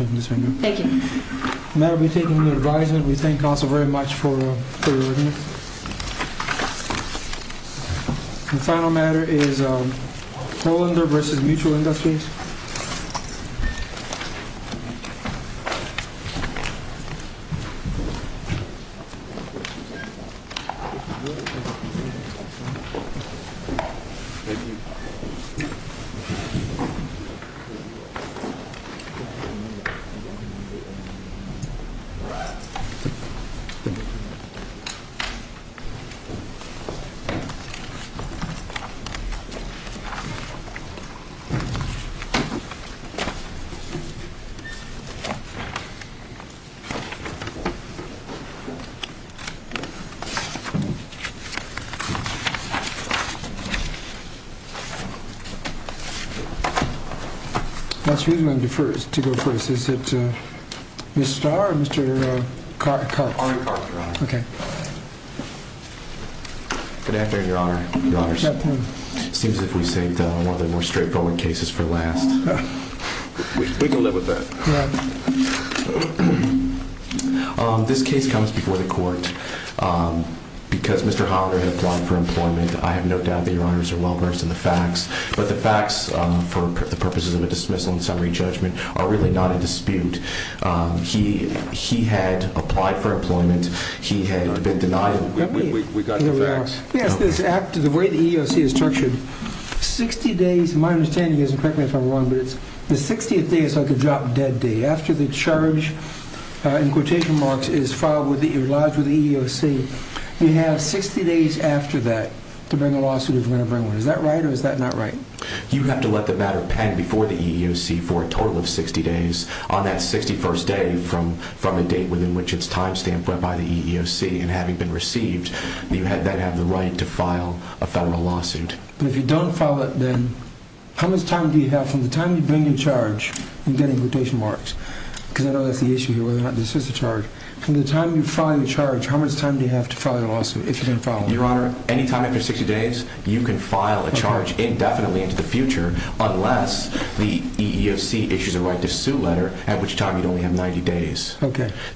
We thank Council very much for your review. The final matter is to go first, is it Mr. Starr or Mr. Clark? Mr. Clark, I have no doubt that your honors are well versed in the facts, but the facts for the purposes of a dismissal and summary judgment are really not in dispute. He had applied for employment, he had been denied, we got the facts. Yes, this act, the way the EEOC is tortured, 60 days, my understanding is, and correct me if I'm wrong, but the 60th day is like a drop dead day. After the charge, in quotation marks, is filed with the EEOC, you have 60 days after that to bring a lawsuit if you're going to bring one. Is that right or is that not right? You have to let the matter pen before the EEOC for a total of 60 days on that 61st day from a date within which it's time stamped by the EEOC. And having been received, you then have the right to file a federal lawsuit. But if you don't file it then, how much time do you have, from the time you bring your charge, in getting quotation marks, because I know that's the issue here whether or not this is a charge, from the time you file your charge, how much time do you have to file your lawsuit if you're going to file one? Your Honor, any time after 60 days, you can file a charge indefinitely into the future unless the EEOC issues a right to sue letter at which time you'd only have 90 days.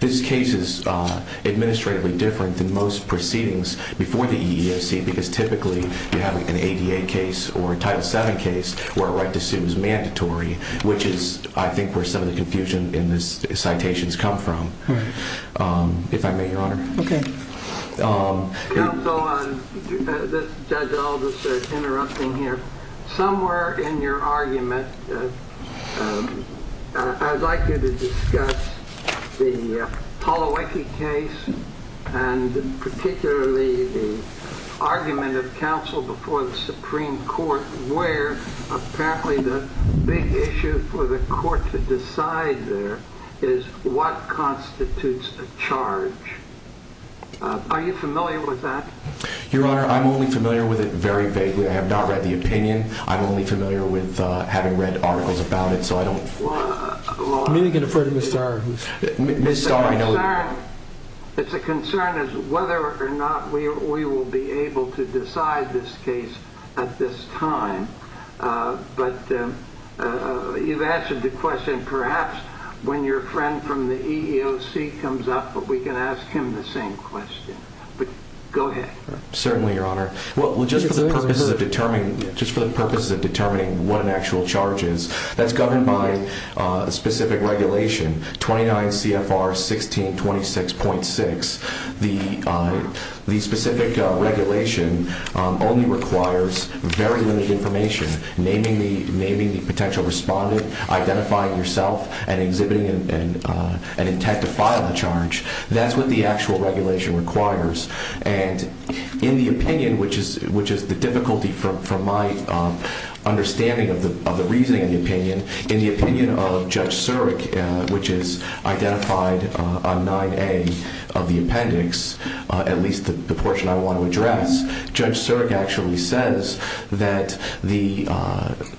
This case is administratively different than most proceedings before the EEOC because typically you have an ADA case or a Title VII case where a right to sue is mandatory, which is, I think, where some of the confusion in the citations come from. If I may, Your Honor. Okay. Counsel, Judge Aldis is interrupting here. Somewhere in your argument, I'd like you to discuss the Palawaki case and particularly the argument of counsel before the Supreme Court where apparently the big issue for the court to decide there is what constitutes a charge. Are you familiar with that? Your Honor, I'm only familiar with it very vaguely. I have not read the opinion. I'm only familiar with having read articles about it, so I don't... You can defer to Ms. Starr. Ms. Starr, I know you... It's a concern as to whether or not we will be able to decide this case at this time, but you've answered the question. Perhaps when your friend from the EEOC comes up, we can ask him the same question. Go ahead. Certainly, Your Honor. Just for the purposes of determining what an actual charge is, that's governed by a specific regulation, 29 CFR 1626.6. The specific regulation only requires very limited information, naming the potential respondent, identifying yourself, and exhibiting an intent to file the charge. That's what the actual regulation requires. And in the opinion, which is the difficulty from my understanding of the reasoning of the opinion, in the opinion of Judge Surik, which is identified on 9A of the appendix, at least the portion I want to address, Judge Surik actually says that the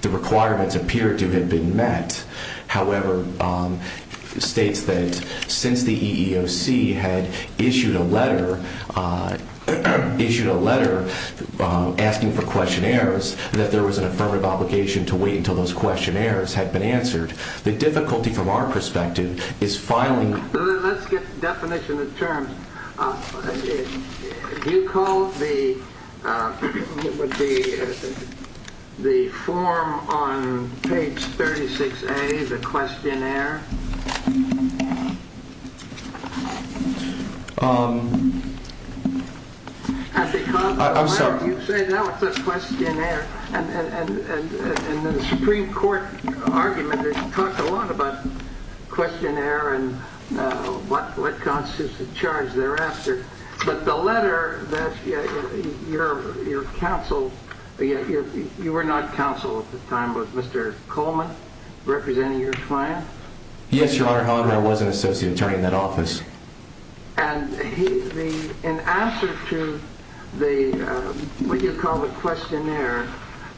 requirements appear to have been met. However, states that since the EEOC had issued a letter asking for questionnaires, that there was an affirmative obligation to wait until those questionnaires had been answered. The difficulty from our perspective is filing... Let's get definition of terms. You called the form on page 36A the questionnaire. I'm sorry. You say that was a questionnaire. And the Supreme Court argument talked a lot about questionnaire and what constitutes a charge thereafter. But the letter that your counsel... You were not counsel at the time. Was Mr. Coleman representing your client? Yes, Your Honor. However, I was an associate attorney in that office. And in answer to what you call the questionnaire,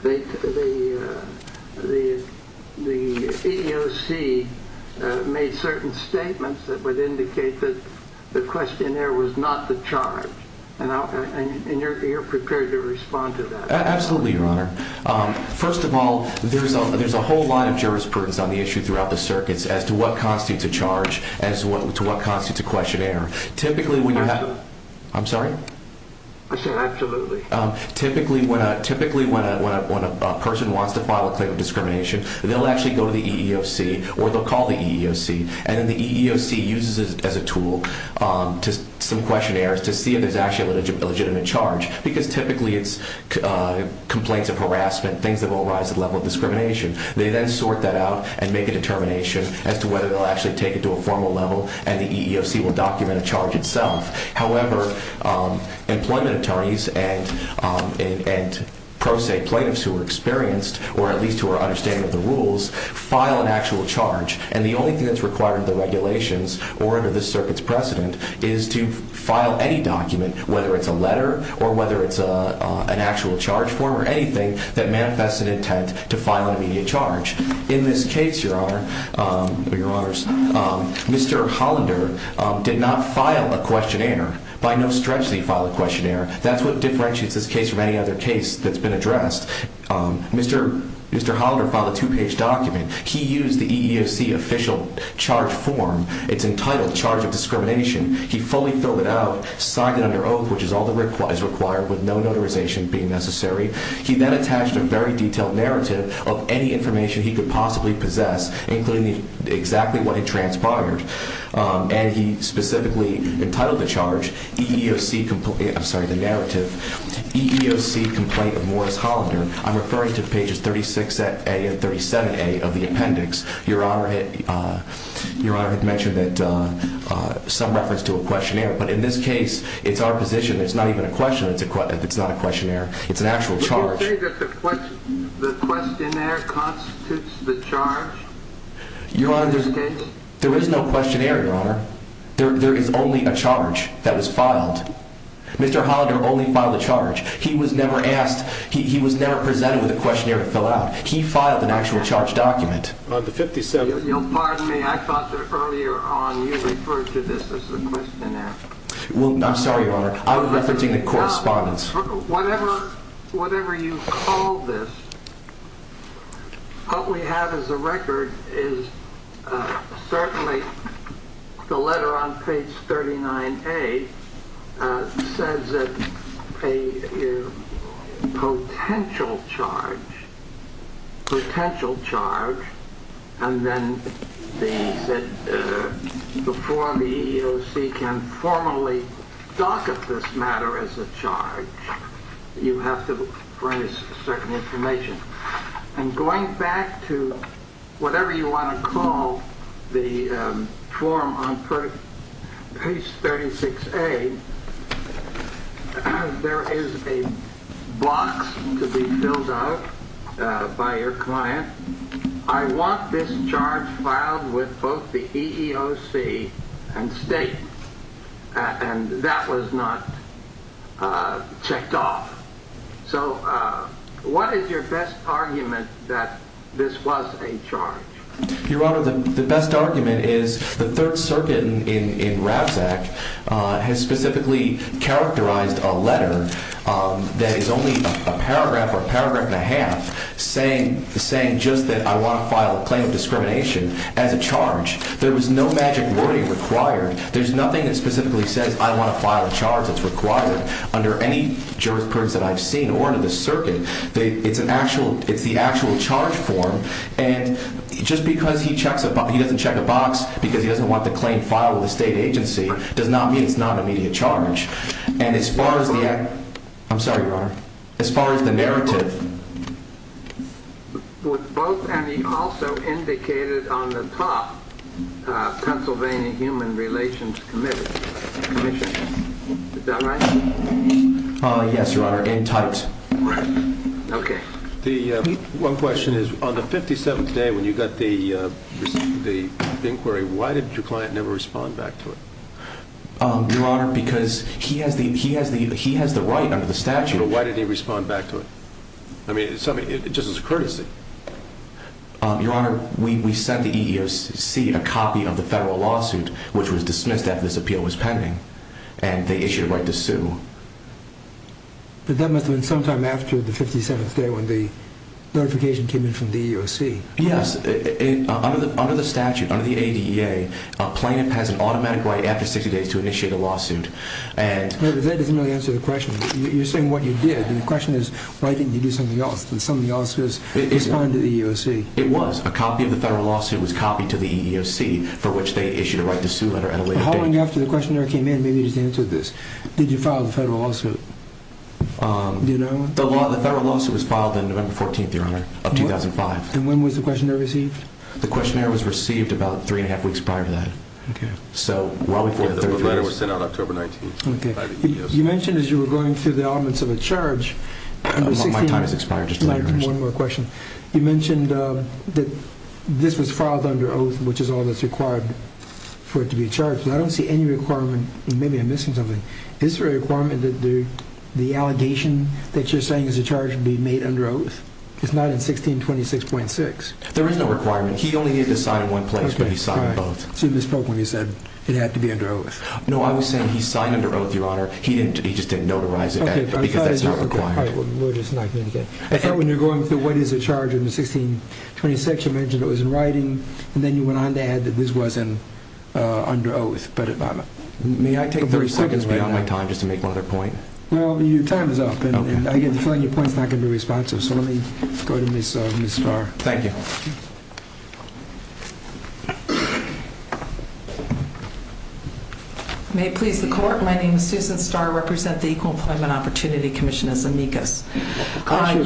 the EEOC made certain statements that would indicate that the questionnaire was not the charge. And you're prepared to respond to that. Absolutely, Your Honor. First of all, there's a whole line of jurisprudence on the issue throughout the circuits as to what constitutes a charge, as to what constitutes a questionnaire. Typically, when you're not... I'm sorry? I said absolutely. Typically, when a person wants to file a claim of discrimination, they'll actually go to the EEOC or they'll call the EEOC. And then the EEOC uses it as a tool to some questionnaires to see if there's actually a legitimate charge. Because typically it's complaints of harassment, things that will arise at the level of discrimination. They then sort that out and make a determination as to whether they'll actually take it to a formal level. And the EEOC will document a charge itself. However, employment attorneys and pro se plaintiffs who are experienced, or at least who are understanding of the rules, file an actual charge. And the only thing that's required of the regulations or under this circuit's precedent is to file any document, whether it's a letter or whether it's an actual charge form or anything, that manifests an intent to file an immediate charge. In this case, Your Honor, Mr. Hollander did not file a questionnaire. By no stretch did he file a questionnaire. That's what differentiates this case from any other case that's been addressed. Mr. Hollander filed a two-page document. He used the EEOC official charge form. It's entitled Charge of Discrimination. He fully filled it out, signed it under oath, which is all that is required with no notarization being necessary. He then attached a very detailed narrative of any information he could possibly possess, including exactly what he transpired. And he specifically entitled the charge EEOC Complaint of Morris Hollander. I'm referring to pages 36A and 37A of the appendix. Your Honor had mentioned some reference to a questionnaire. But in this case, it's our position it's not even a question. It's not a questionnaire. It's an actual charge. But you say that the questionnaire constitutes the charge? Your Honor, there is no questionnaire, Your Honor. There is only a charge that was filed. Mr. Hollander only filed a charge. He was never asked. He was never presented with a questionnaire to fill out. He filed an actual charge document. Pardon me. I thought that earlier on you referred to this as a questionnaire. I'm sorry, Your Honor. I'm referencing the correspondence. Whatever you call this, what we have as a record is certainly the letter on page 39A says that a potential charge, and then they said before the EEOC can formally docket this matter as a charge, you have to bring us certain information. And going back to whatever you want to call the form on page 36A, there is a box to be filled out by your client. I want this charge filed with both the EEOC and state. And that was not checked off. So what is your best argument that this was a charge? Your Honor, the best argument is the Third Circuit in Ravzak has specifically characterized a letter that is only a paragraph or a paragraph and a half saying just that I want to file a claim of discrimination as a charge. There was no magic wording required. There's nothing that specifically says I want to file a charge that's required. Under any jurisprudence that I've seen or under the circuit, it's the actual charge form. And just because he doesn't check a box because he doesn't want the claim filed with a state agency does not mean it's not an immediate charge. And as far as the narrative. Was both and also indicated on the top Pennsylvania Human Relations Commission. Is that right? Yes, Your Honor, in typed. Okay. One question is on the 57th day when you got the inquiry, why did your client never respond back to it? Your Honor, because he has the right under the statute. But why did he respond back to it? I mean, just as a courtesy. Your Honor, we sent the EEOC a copy of the federal lawsuit, which was dismissed after this appeal was pending. And they issued a right to sue. But that must have been sometime after the 57th day when the notification came in from the EEOC. Yes. Under the statute, under the ADEA, plaintiff has an automatic right after 60 days to initiate a lawsuit. But that doesn't really answer the question. You're saying what you did. The question is why didn't you do something else? Something else was responding to the EEOC. It was. A copy of the federal lawsuit was copied to the EEOC, for which they issued a right to sue letter at a later date. Following after the questionnaire came in, maybe you just answered this. Did you file the federal lawsuit? Do you know? The federal lawsuit was filed on November 14th, Your Honor, of 2005. And when was the questionnaire received? The questionnaire was received about three and a half weeks prior to that. Okay. The letter was sent out October 19th. Okay. You mentioned as you were going through the elements of a charge. My time has expired. One more question. You mentioned that this was filed under oath, which is all that's required for it to be charged. And I don't see any requirement. Maybe I'm missing something. Is there a requirement that the allegation that you're saying is a charge be made under oath? It's not in 1626.6. There is no requirement. He only needed to sign one place, but he signed both. Okay. So you misspoke when you said it had to be under oath. No, I was saying he signed under oath, Your Honor. He just didn't notarize it because that's not required. Okay. We'll just not communicate. Okay. I thought when you were going through what is a charge in the 1626, you mentioned it was in writing, and then you went on to add that this wasn't under oath. But may I take a brief second right now? You're 30 seconds beyond my time just to make one other point. Well, your time is up, and I get the feeling your point is not going to be responsive. So let me go to Ms. Starr. Thank you. May it please the Court, my name is Susan Starr. I represent the Equal Employment Opportunity Commission as amicus. Can I ask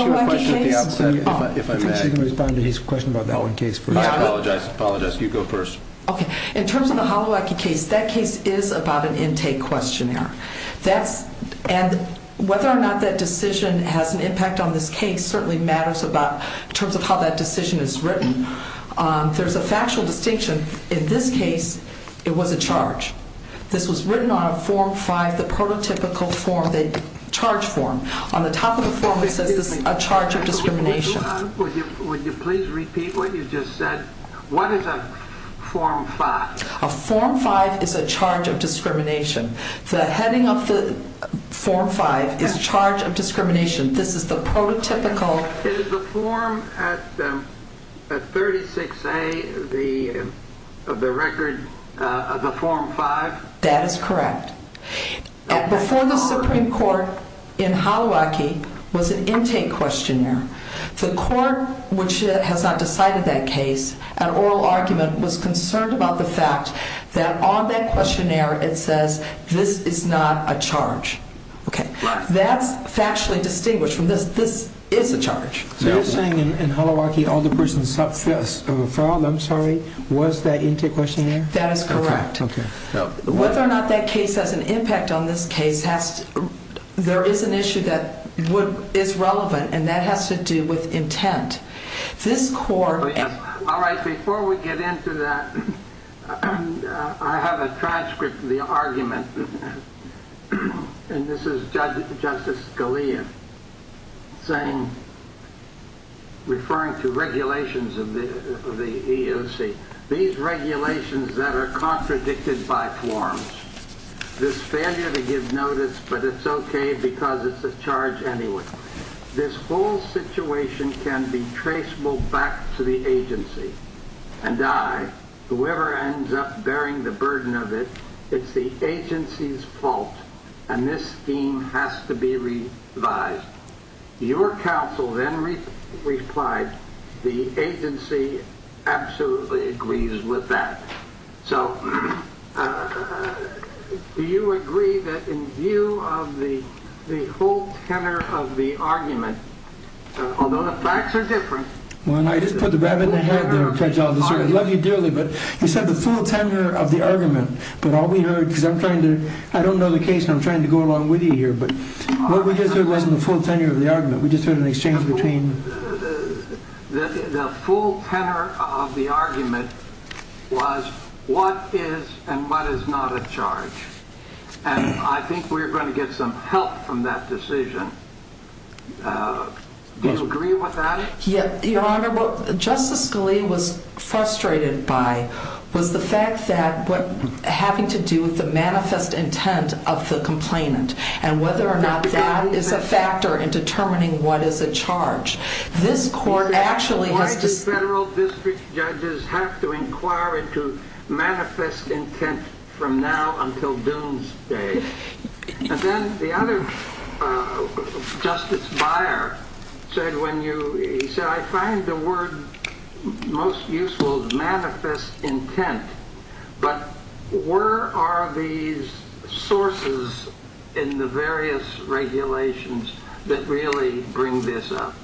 you a question of the opposite, if I may? I think she's going to respond to his question about that one case first. I apologize. You go first. Okay. In terms of the Holowacki case, that case is about an intake questionnaire. And whether or not that decision has an impact on this case certainly matters in terms of how that decision is written. There's a factual distinction. In this case, it was a charge. This was written on a Form 5, the prototypical form, the charge form. On the top of the form it says this is a charge of discrimination. Would you please repeat what you just said? What is a Form 5? A Form 5 is a charge of discrimination. The heading of the Form 5 is charge of discrimination. This is the prototypical. Is the form at 36A of the record of the Form 5? That is correct. Before the Supreme Court in Holowacki was an intake questionnaire, the court, which has not decided that case, an oral argument was concerned about the fact that on that questionnaire it says this is not a charge. That's factually distinguished from this. This is a charge. So you're saying in Holowacki all the persons subfest of a file, I'm sorry, was that intake questionnaire? That is correct. Whether or not that case has an impact on this case, there is an issue that is relevant, and that has to do with intent. Before we get into that, I have a transcript of the argument. This is Justice Scalia referring to regulations of the EEOC. These regulations that are contradicted by forms. This failure to give notice, but it's okay because it's a charge anyway. This whole situation can be traceable back to the agency. And I, whoever ends up bearing the burden of it, it's the agency's fault, and this scheme has to be revised. Your counsel then replied, the agency absolutely agrees with that. So do you agree that in view of the whole tenor of the argument, although the facts are different... I just put the rabbit in the head there, Judge Alderson. I love you dearly, but you said the full tenor of the argument. But all we heard, because I'm trying to, I don't know the case and I'm trying to go along with you here, but what we just heard wasn't the full tenor of the argument. We just heard an exchange between... The full tenor of the argument was what is and what is not a charge. And I think we're going to get some help from that decision. Do you agree with that? Your Honor, what Justice Scalia was frustrated by was the fact that having to do with the manifest intent of the complainant and whether or not that is a factor in determining what is a charge. Why do federal district judges have to inquire into manifest intent from now until doomsday? And then the other Justice Beyer said, I find the word most useful, manifest intent, but where are these sources in the various regulations that really bring this up?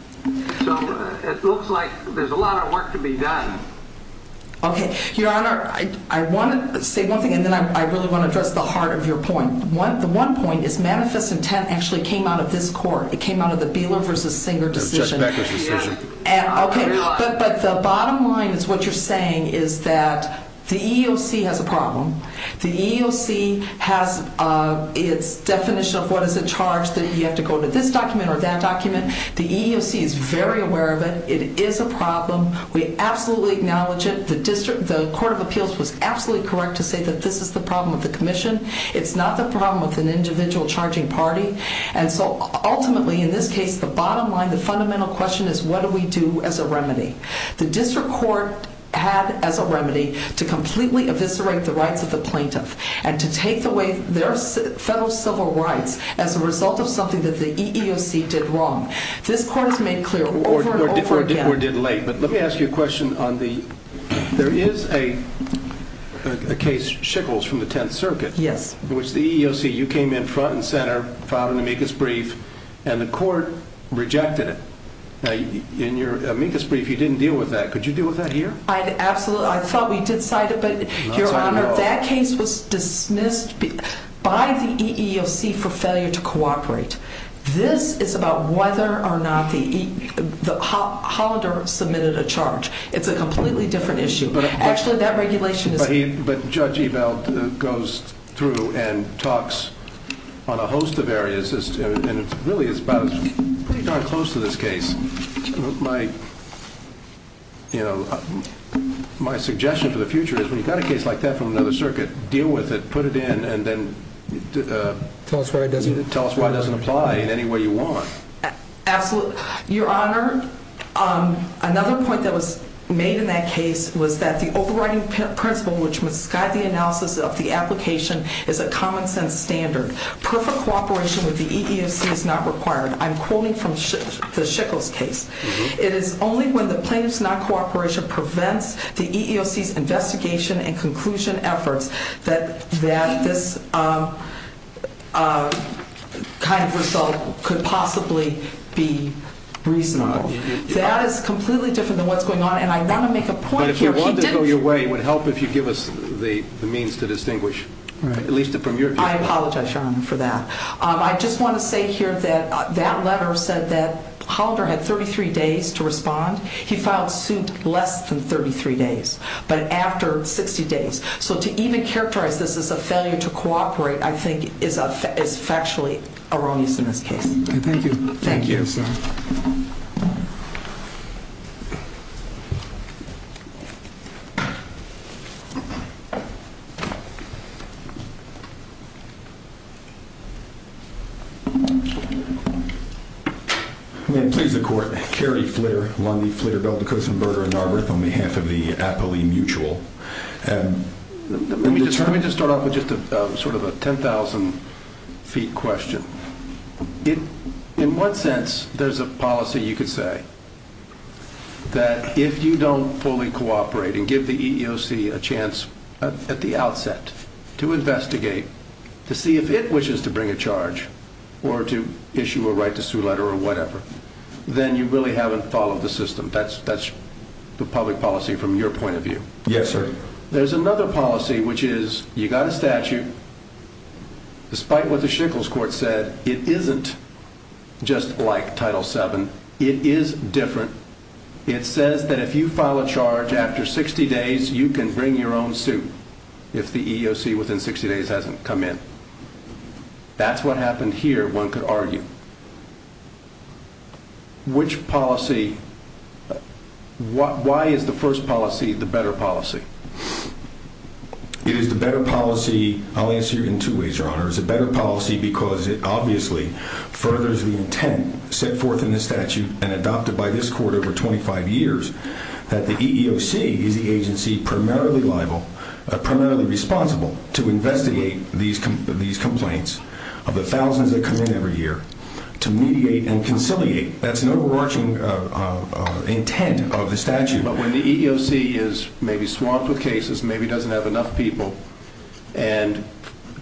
So it looks like there's a lot of work to be done. Okay, Your Honor, I want to say one thing and then I really want to address the heart of your point. The one point is manifest intent actually came out of this court. It came out of the Beeler versus Singer decision. It was Judge Becker's decision. But the bottom line is what you're saying is that the EEOC has a problem. The EEOC has its definition of what is a charge that you have to go to this document or that document. The EEOC is very aware of it. It is a problem. We absolutely acknowledge it. The Court of Appeals was absolutely correct to say that this is the problem with the commission. It's not the problem with an individual charging party. And so ultimately, in this case, the bottom line, the fundamental question is what do we do as a remedy? The district court had as a remedy to completely eviscerate the rights of the plaintiff and to take away their federal civil rights as a result of something that the EEOC did wrong. This court has made clear over and over again. Or did late. But let me ask you a question on the – there is a case, Schickels, from the Tenth Circuit. Yes. In which the EEOC, you came in front and center, filed an amicus brief, and the court rejected it. In your amicus brief, you didn't deal with that. Could you deal with that here? Absolutely. I thought we did cite it. But, Your Honor, that case was dismissed by the EEOC for failure to cooperate. This is about whether or not the – Hollander submitted a charge. It's a completely different issue. Actually, that regulation is – But Judge Ebel goes through and talks on a host of areas. Really, it's about – pretty darn close to this case. My suggestion for the future is, when you've got a case like that from another circuit, deal with it, put it in, and then tell us why it doesn't apply in any way you want. Absolutely. Your Honor, another point that was made in that case was that the overriding principle, which must guide the analysis of the application, is a common-sense standard. Perfect cooperation with the EEOC is not required. I'm quoting from the Schickels case. It is only when the plaintiff's non-cooperation prevents the EEOC's investigation and conclusion efforts that this kind of result could possibly be reasonable. That is completely different than what's going on, and I want to make a point here. But if you want to go your way, it would help if you give us the means to distinguish, at least from your view. I apologize, Your Honor, for that. I just want to say here that that letter said that Hollander had 33 days to respond. He filed suit less than 33 days. But after 60 days. So to even characterize this as a failure to cooperate, I think, is factually erroneous in this case. Thank you. Thank you, sir. I'm going to please the Court. Carey Fleer, Lundy, Fleer, Bell, Dacosan, Berger, and Narberth on behalf of the Apolee Mutual. Let me just start off with just sort of a 10,000-feet question. In one sense, there's a policy, you could say, that if you don't fully cooperate and give the EEOC a chance at the outset to investigate, to see if it wishes to bring a charge or to issue a right to sue letter or whatever, then you really haven't followed the system. That's the public policy from your point of view. Yes, sir. There's another policy, which is you've got a statute. Despite what the Shickles Court said, it isn't just like Title VII. It is different. It says that if you file a charge after 60 days, you can bring your own suit if the EEOC within 60 days hasn't come in. That's what happened here, one could argue. Which policy? Why is the first policy the better policy? It is the better policy. I'll answer you in two ways, Your Honor. It's a better policy because it obviously furthers the intent set forth in the statute and adopted by this court over 25 years that the EEOC is the agency primarily liable, primarily responsible to investigate these complaints of the thousands that come in every year to mediate and conciliate. That's an overarching intent of the statute. But when the EEOC is maybe swamped with cases, maybe doesn't have enough people, and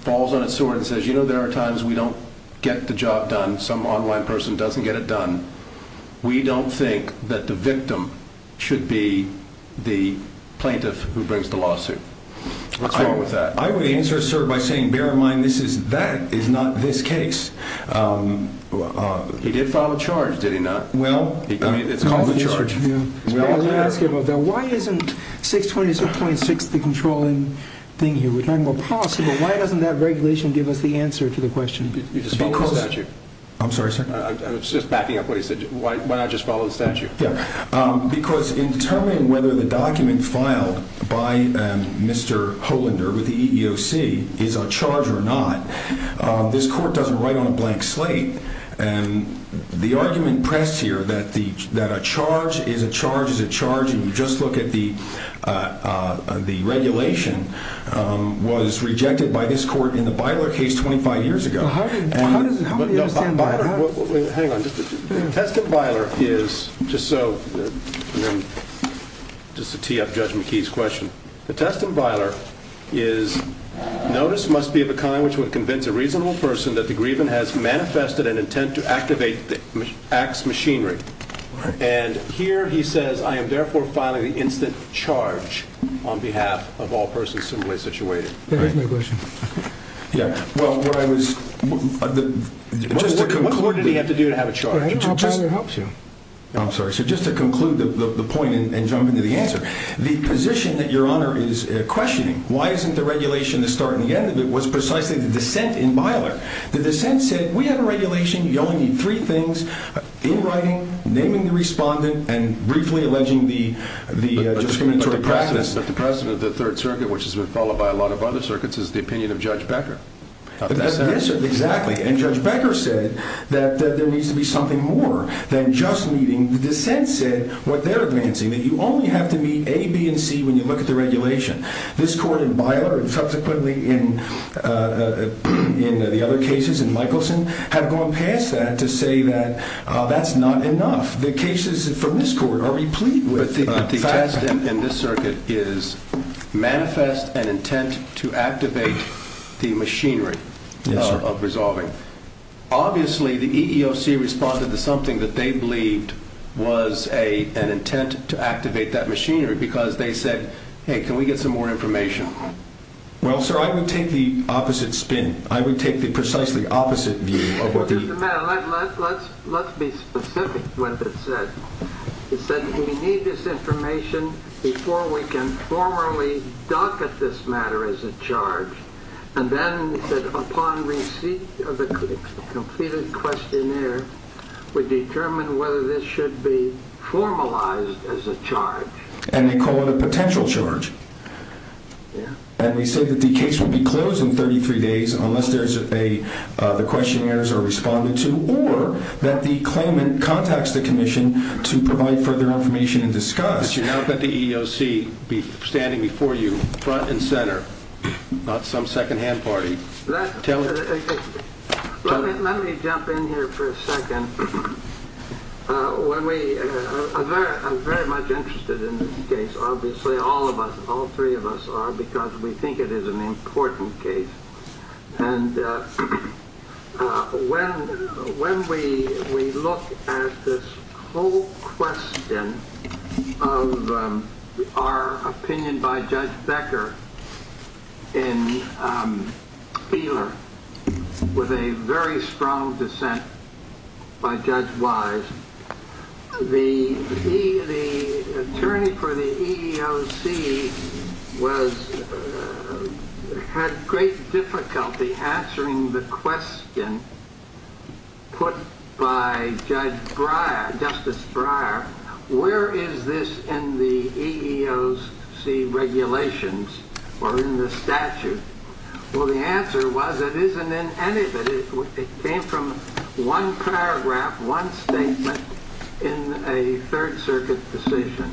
falls on its sword and says, you know, there are times we don't get the job done, some online person doesn't get it done, we don't think that the victim should be the plaintiff who brings the lawsuit. What's wrong with that? I would answer, sir, by saying, bear in mind, that is not this case. He did file a charge, did he not? Well, it's called a charge. Let me ask you about that. Why isn't 620.6 the controlling thing here? We're talking about policy, but why doesn't that regulation give us the answer to the question? You just follow the statute. I'm sorry, sir? I was just backing up what he said. Why not just follow the statute? Because in determining whether the document filed by Mr. Hollander with the EEOC is a charge or not, this court doesn't write on a blank slate. The argument pressed here that a charge is a charge is a charge, and you just look at the regulation, was rejected by this court in the Beiler case 25 years ago. How do you understand Beiler? Hang on. The test in Beiler is, just so, just to tee up Judge McKee's question, the test in Beiler is notice must be of a kind which would convince a reasonable person that the grievance has manifested an intent to activate the act's machinery. And here he says, I am therefore filing the instant charge on behalf of all persons similarly situated. That is my question. Yeah, well, where I was, just to conclude. What court did he have to do to have a charge? I'll tell you how it helps you. I'm sorry. So just to conclude the point and jump into the answer, the position that Your Honor is questioning, why isn't the regulation the start and the end of it, was precisely the dissent in Beiler. The dissent said, we have a regulation. You only need three things, in writing, naming the respondent, and briefly alleging the discriminatory practice. Yes, but the President of the Third Circuit, which has been followed by a lot of other circuits, is the opinion of Judge Becker. Yes, exactly. And Judge Becker said that there needs to be something more than just meeting. The dissent said what they're advancing, that you only have to meet A, B, and C when you look at the regulation. This court in Beiler, and subsequently in the other cases, in Michelson, have gone past that to say that that's not enough. The cases from this court are replete with facts. The last in this circuit is manifest an intent to activate the machinery of resolving. Obviously, the EEOC responded to something that they believed was an intent to activate that machinery, because they said, hey, can we get some more information? Well, sir, I would take the opposite spin. I would take the precisely opposite view of what the— Let's be specific with it. They said we need this information before we can formally docket this matter as a charge. And then they said upon receipt of the completed questionnaire, we determine whether this should be formalized as a charge. And they call it a potential charge. Yeah. And they say that the case will be closed in 33 days unless there's a—the questionnaires are responded to, or that the claimant contacts the commission to provide further information and discuss. You're now going to have the EEOC standing before you front and center, not some second-hand party. Let me jump in here for a second. When we—I'm very much interested in this case. Obviously, all of us, all three of us are, because we think it is an important case. And when we look at this whole question of our opinion by Judge Becker in Ehler, with a very strong dissent by Judge Wise, the attorney for the EEOC had great difficulty answering the question put by Justice Breyer, where is this in the EEOC regulations or in the statute? Well, the answer was it isn't in any of it. It came from one paragraph, one statement in a Third Circuit decision.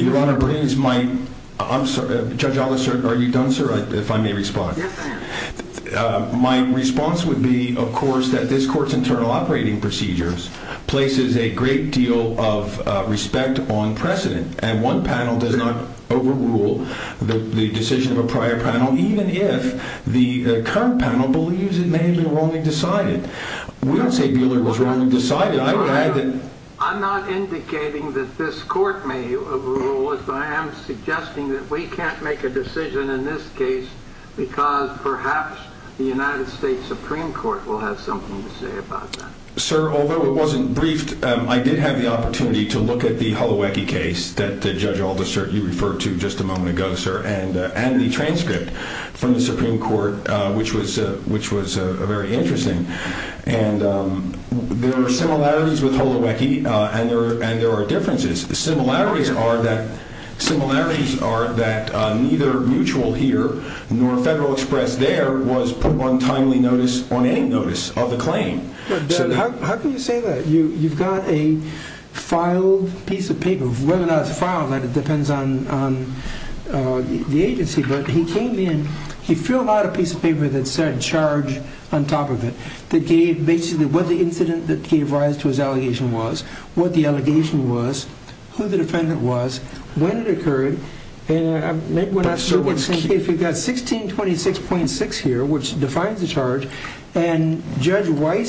Your Honor, please, my—I'm sorry. Judge Ellis, are you done, sir, if I may respond? Yes, I am. My response would be, of course, that this Court's internal operating procedures places a great deal of respect on precedent. And one panel does not overrule the decision of a prior panel, even if the current panel believes it may have been wrongly decided. We don't say Beuler was wrongly decided. I would add that— Your Honor, I'm not indicating that this Court may overrule it, but I am suggesting that we can't make a decision in this case because perhaps the United States Supreme Court will have something to say about that. Sir, although it wasn't briefed, I did have the opportunity to look at the Holowecki case that Judge Aldister, you referred to just a moment ago, sir, and the transcript from the Supreme Court, which was very interesting. And there are similarities with Holowecki, and there are differences. The similarities are that neither Mutual here nor Federal Express there was put on timely notice on any notice of the claim. How can you say that? You've got a filed piece of paper. Whether or not it's filed, that depends on the agency. But he came in—he filled out a piece of paper that said charge on top of it that gave basically what the incident that gave rise to his allegation was, what the allegation was, who the defendant was, when it occurred. And maybe we're not sure what's— I'm sure what's— This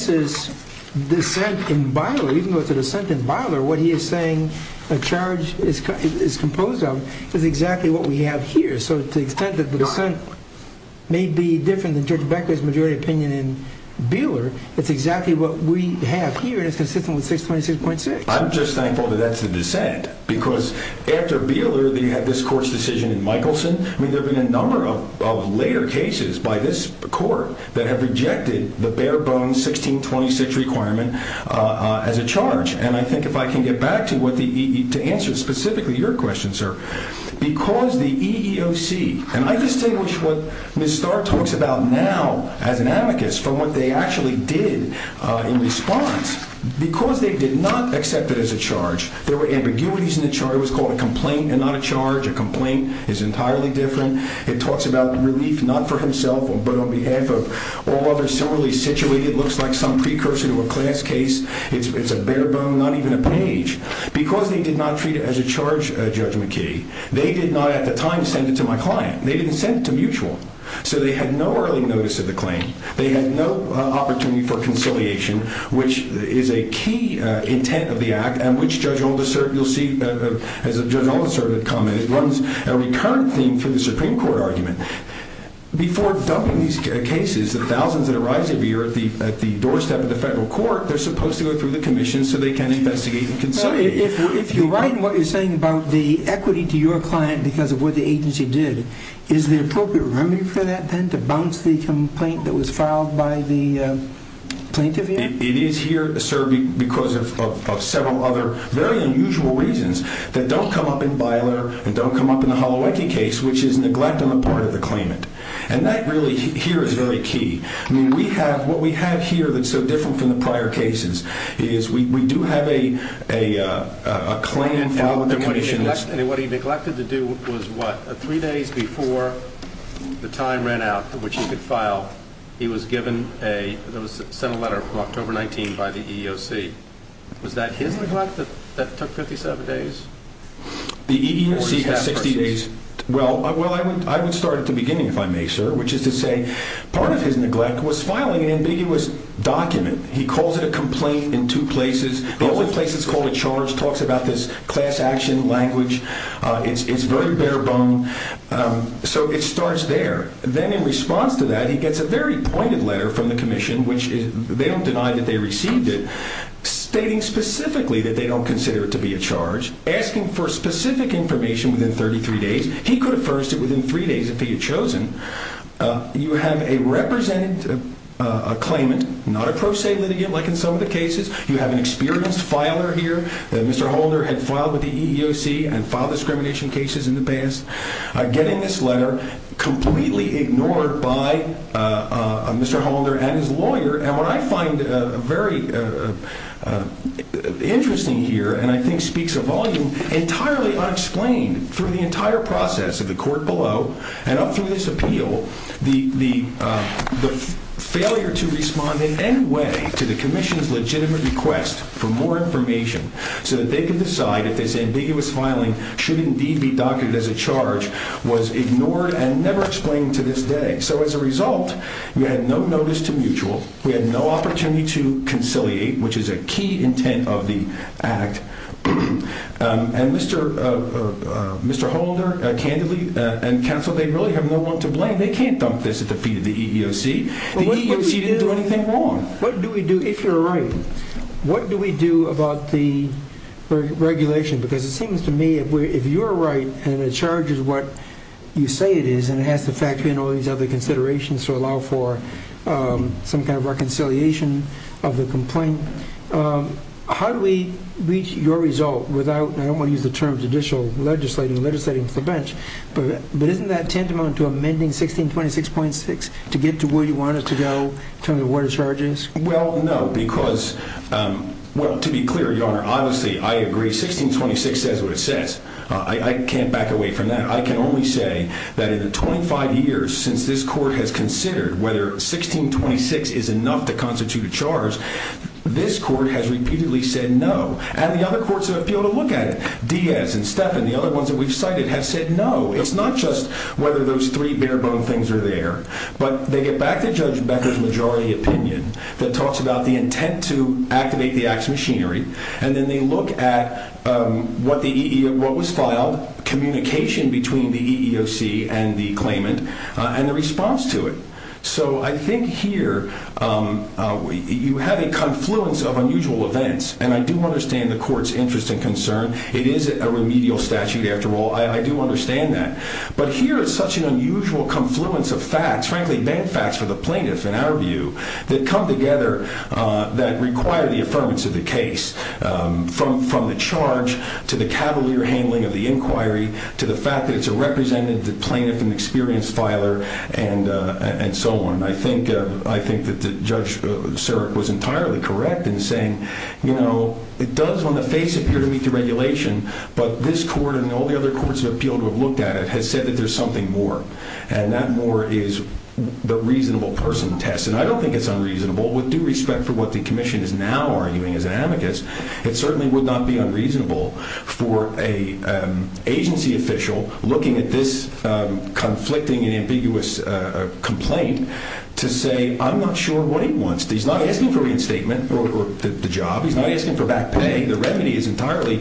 is dissent in Byler. Even though it's a dissent in Byler, what he is saying a charge is composed of is exactly what we have here. So to the extent that the dissent may be different than Judge Becker's majority opinion in Beeler, it's exactly what we have here, and it's consistent with 626.6. I'm just thankful that that's the dissent, because after Beeler, they had this court's decision in Michelson. I mean, there have been a number of later cases by this court that have rejected the bare-bones 1626 requirement as a charge. And I think if I can get back to what the—to answer specifically your question, sir, because the EEOC—and I distinguish what Ms. Starr talks about now as an amicus from what they actually did in response. Because they did not accept it as a charge, there were ambiguities in the charge. It was called a complaint and not a charge. A complaint is entirely different. It talks about relief not for himself but on behalf of all others similarly situated. It looks like some precursor to a class case. It's a bare-bone, not even a page. Because they did not treat it as a charge, Judge McKee, they did not at the time send it to my client. They didn't send it to Mutual. So they had no early notice of the claim. They had no opportunity for conciliation, which is a key intent of the act, and which Judge Oldisert, you'll see, as Judge Oldisert had commented, runs a recurrent theme for the Supreme Court argument. Before dumping these cases, the thousands that arise every year at the doorstep of the federal court, they're supposed to go through the commission so they can investigate and consolidate. If you're right in what you're saying about the equity to your client because of what the agency did, is there appropriate remedy for that then to bounce the complaint that was filed by the plaintiff here? It is here, sir, because of several other very unusual reasons that don't come up in Byler and don't come up in the Holowecki case, which is neglect on the part of the claimant. And that really here is very key. What we have here that's so different from the prior cases is we do have a claim filed with the commission. And what he neglected to do was what? Three days before the time ran out which he could file, he was given a letter from October 19 by the EEOC. Was that his neglect that took 57 days? The EEOC has 60 days. Well, I would start at the beginning if I may, sir, which is to say part of his neglect was filing an ambiguous document. He calls it a complaint in two places. The only place it's called a charge talks about this class action language. It's very bare bone. So it starts there. Then in response to that, he gets a very pointed letter from the commission, which they don't deny that they received it, stating specifically that they don't consider it to be a charge, asking for specific information within 33 days. He could have furnished it within three days if he had chosen. You have a representative, a claimant, not a pro se litigant like in some of the cases. You have an experienced filer here that Mr. Holder had filed with the EEOC and filed discrimination cases in the past. I get in this letter completely ignored by Mr. Holder and his lawyer, and what I find very interesting here and I think speaks a volume, entirely unexplained through the entire process of the court below and up through this appeal, the failure to respond in any way to the commission's legitimate request for more information so that they can decide if this ambiguous filing should indeed be documented as a charge was ignored and never explained to this day. So as a result, we had no notice to mutual. We had no opportunity to conciliate, which is a key intent of the act. And Mr. Holder, candidly, and counsel, they really have no one to blame. They can't dump this at the feet of the EEOC. The EEOC didn't do anything wrong. What do we do if you're right? What do we do about the regulation? Because it seems to me if you're right and it charges what you say it is and it has to factor in all these other considerations to allow for some kind of reconciliation of the complaint, how do we reach your result without, and I don't want to use the term judicial legislating, legislating to the bench, but isn't that tantamount to amending 1626.6 to get to where you want it to go in terms of what it charges? Well, no, because, well, to be clear, Your Honor, obviously I agree 1626 says what it says. I can't back away from that. I can only say that in the 25 years since this court has considered whether 1626 is enough to constitute a charge, this court has repeatedly said no. And the other courts that have been able to look at it, Diaz and Stephan, the other ones that we've cited, have said no. It's not just whether those three bare bone things are there, but they get back to Judge Becker's majority opinion that talks about the intent to activate the act's machinery, and then they look at what was filed, communication between the EEOC and the claimant, and the response to it. So I think here you have a confluence of unusual events, and I do understand the court's interest and concern. It is a remedial statute after all. I do understand that. But here is such an unusual confluence of facts, frankly bad facts for the plaintiff in our view, that come together that require the affirmance of the case, from the charge to the cavalier handling of the inquiry to the fact that it's a representative plaintiff, an experienced filer, and so on. I think that Judge Sirak was entirely correct in saying, you know, it does on the face appear to meet the regulation, but this court and all the other courts that have appealed to have looked at it has said that there's something more, and that more is the reasonable person test. And I don't think it's unreasonable. With due respect for what the Commission is now arguing as an amicus, it certainly would not be unreasonable for an agency official looking at this conflicting and ambiguous complaint to say, I'm not sure what he wants. He's not asking for reinstatement or the job. He's not asking for back pay. The remedy is entirely...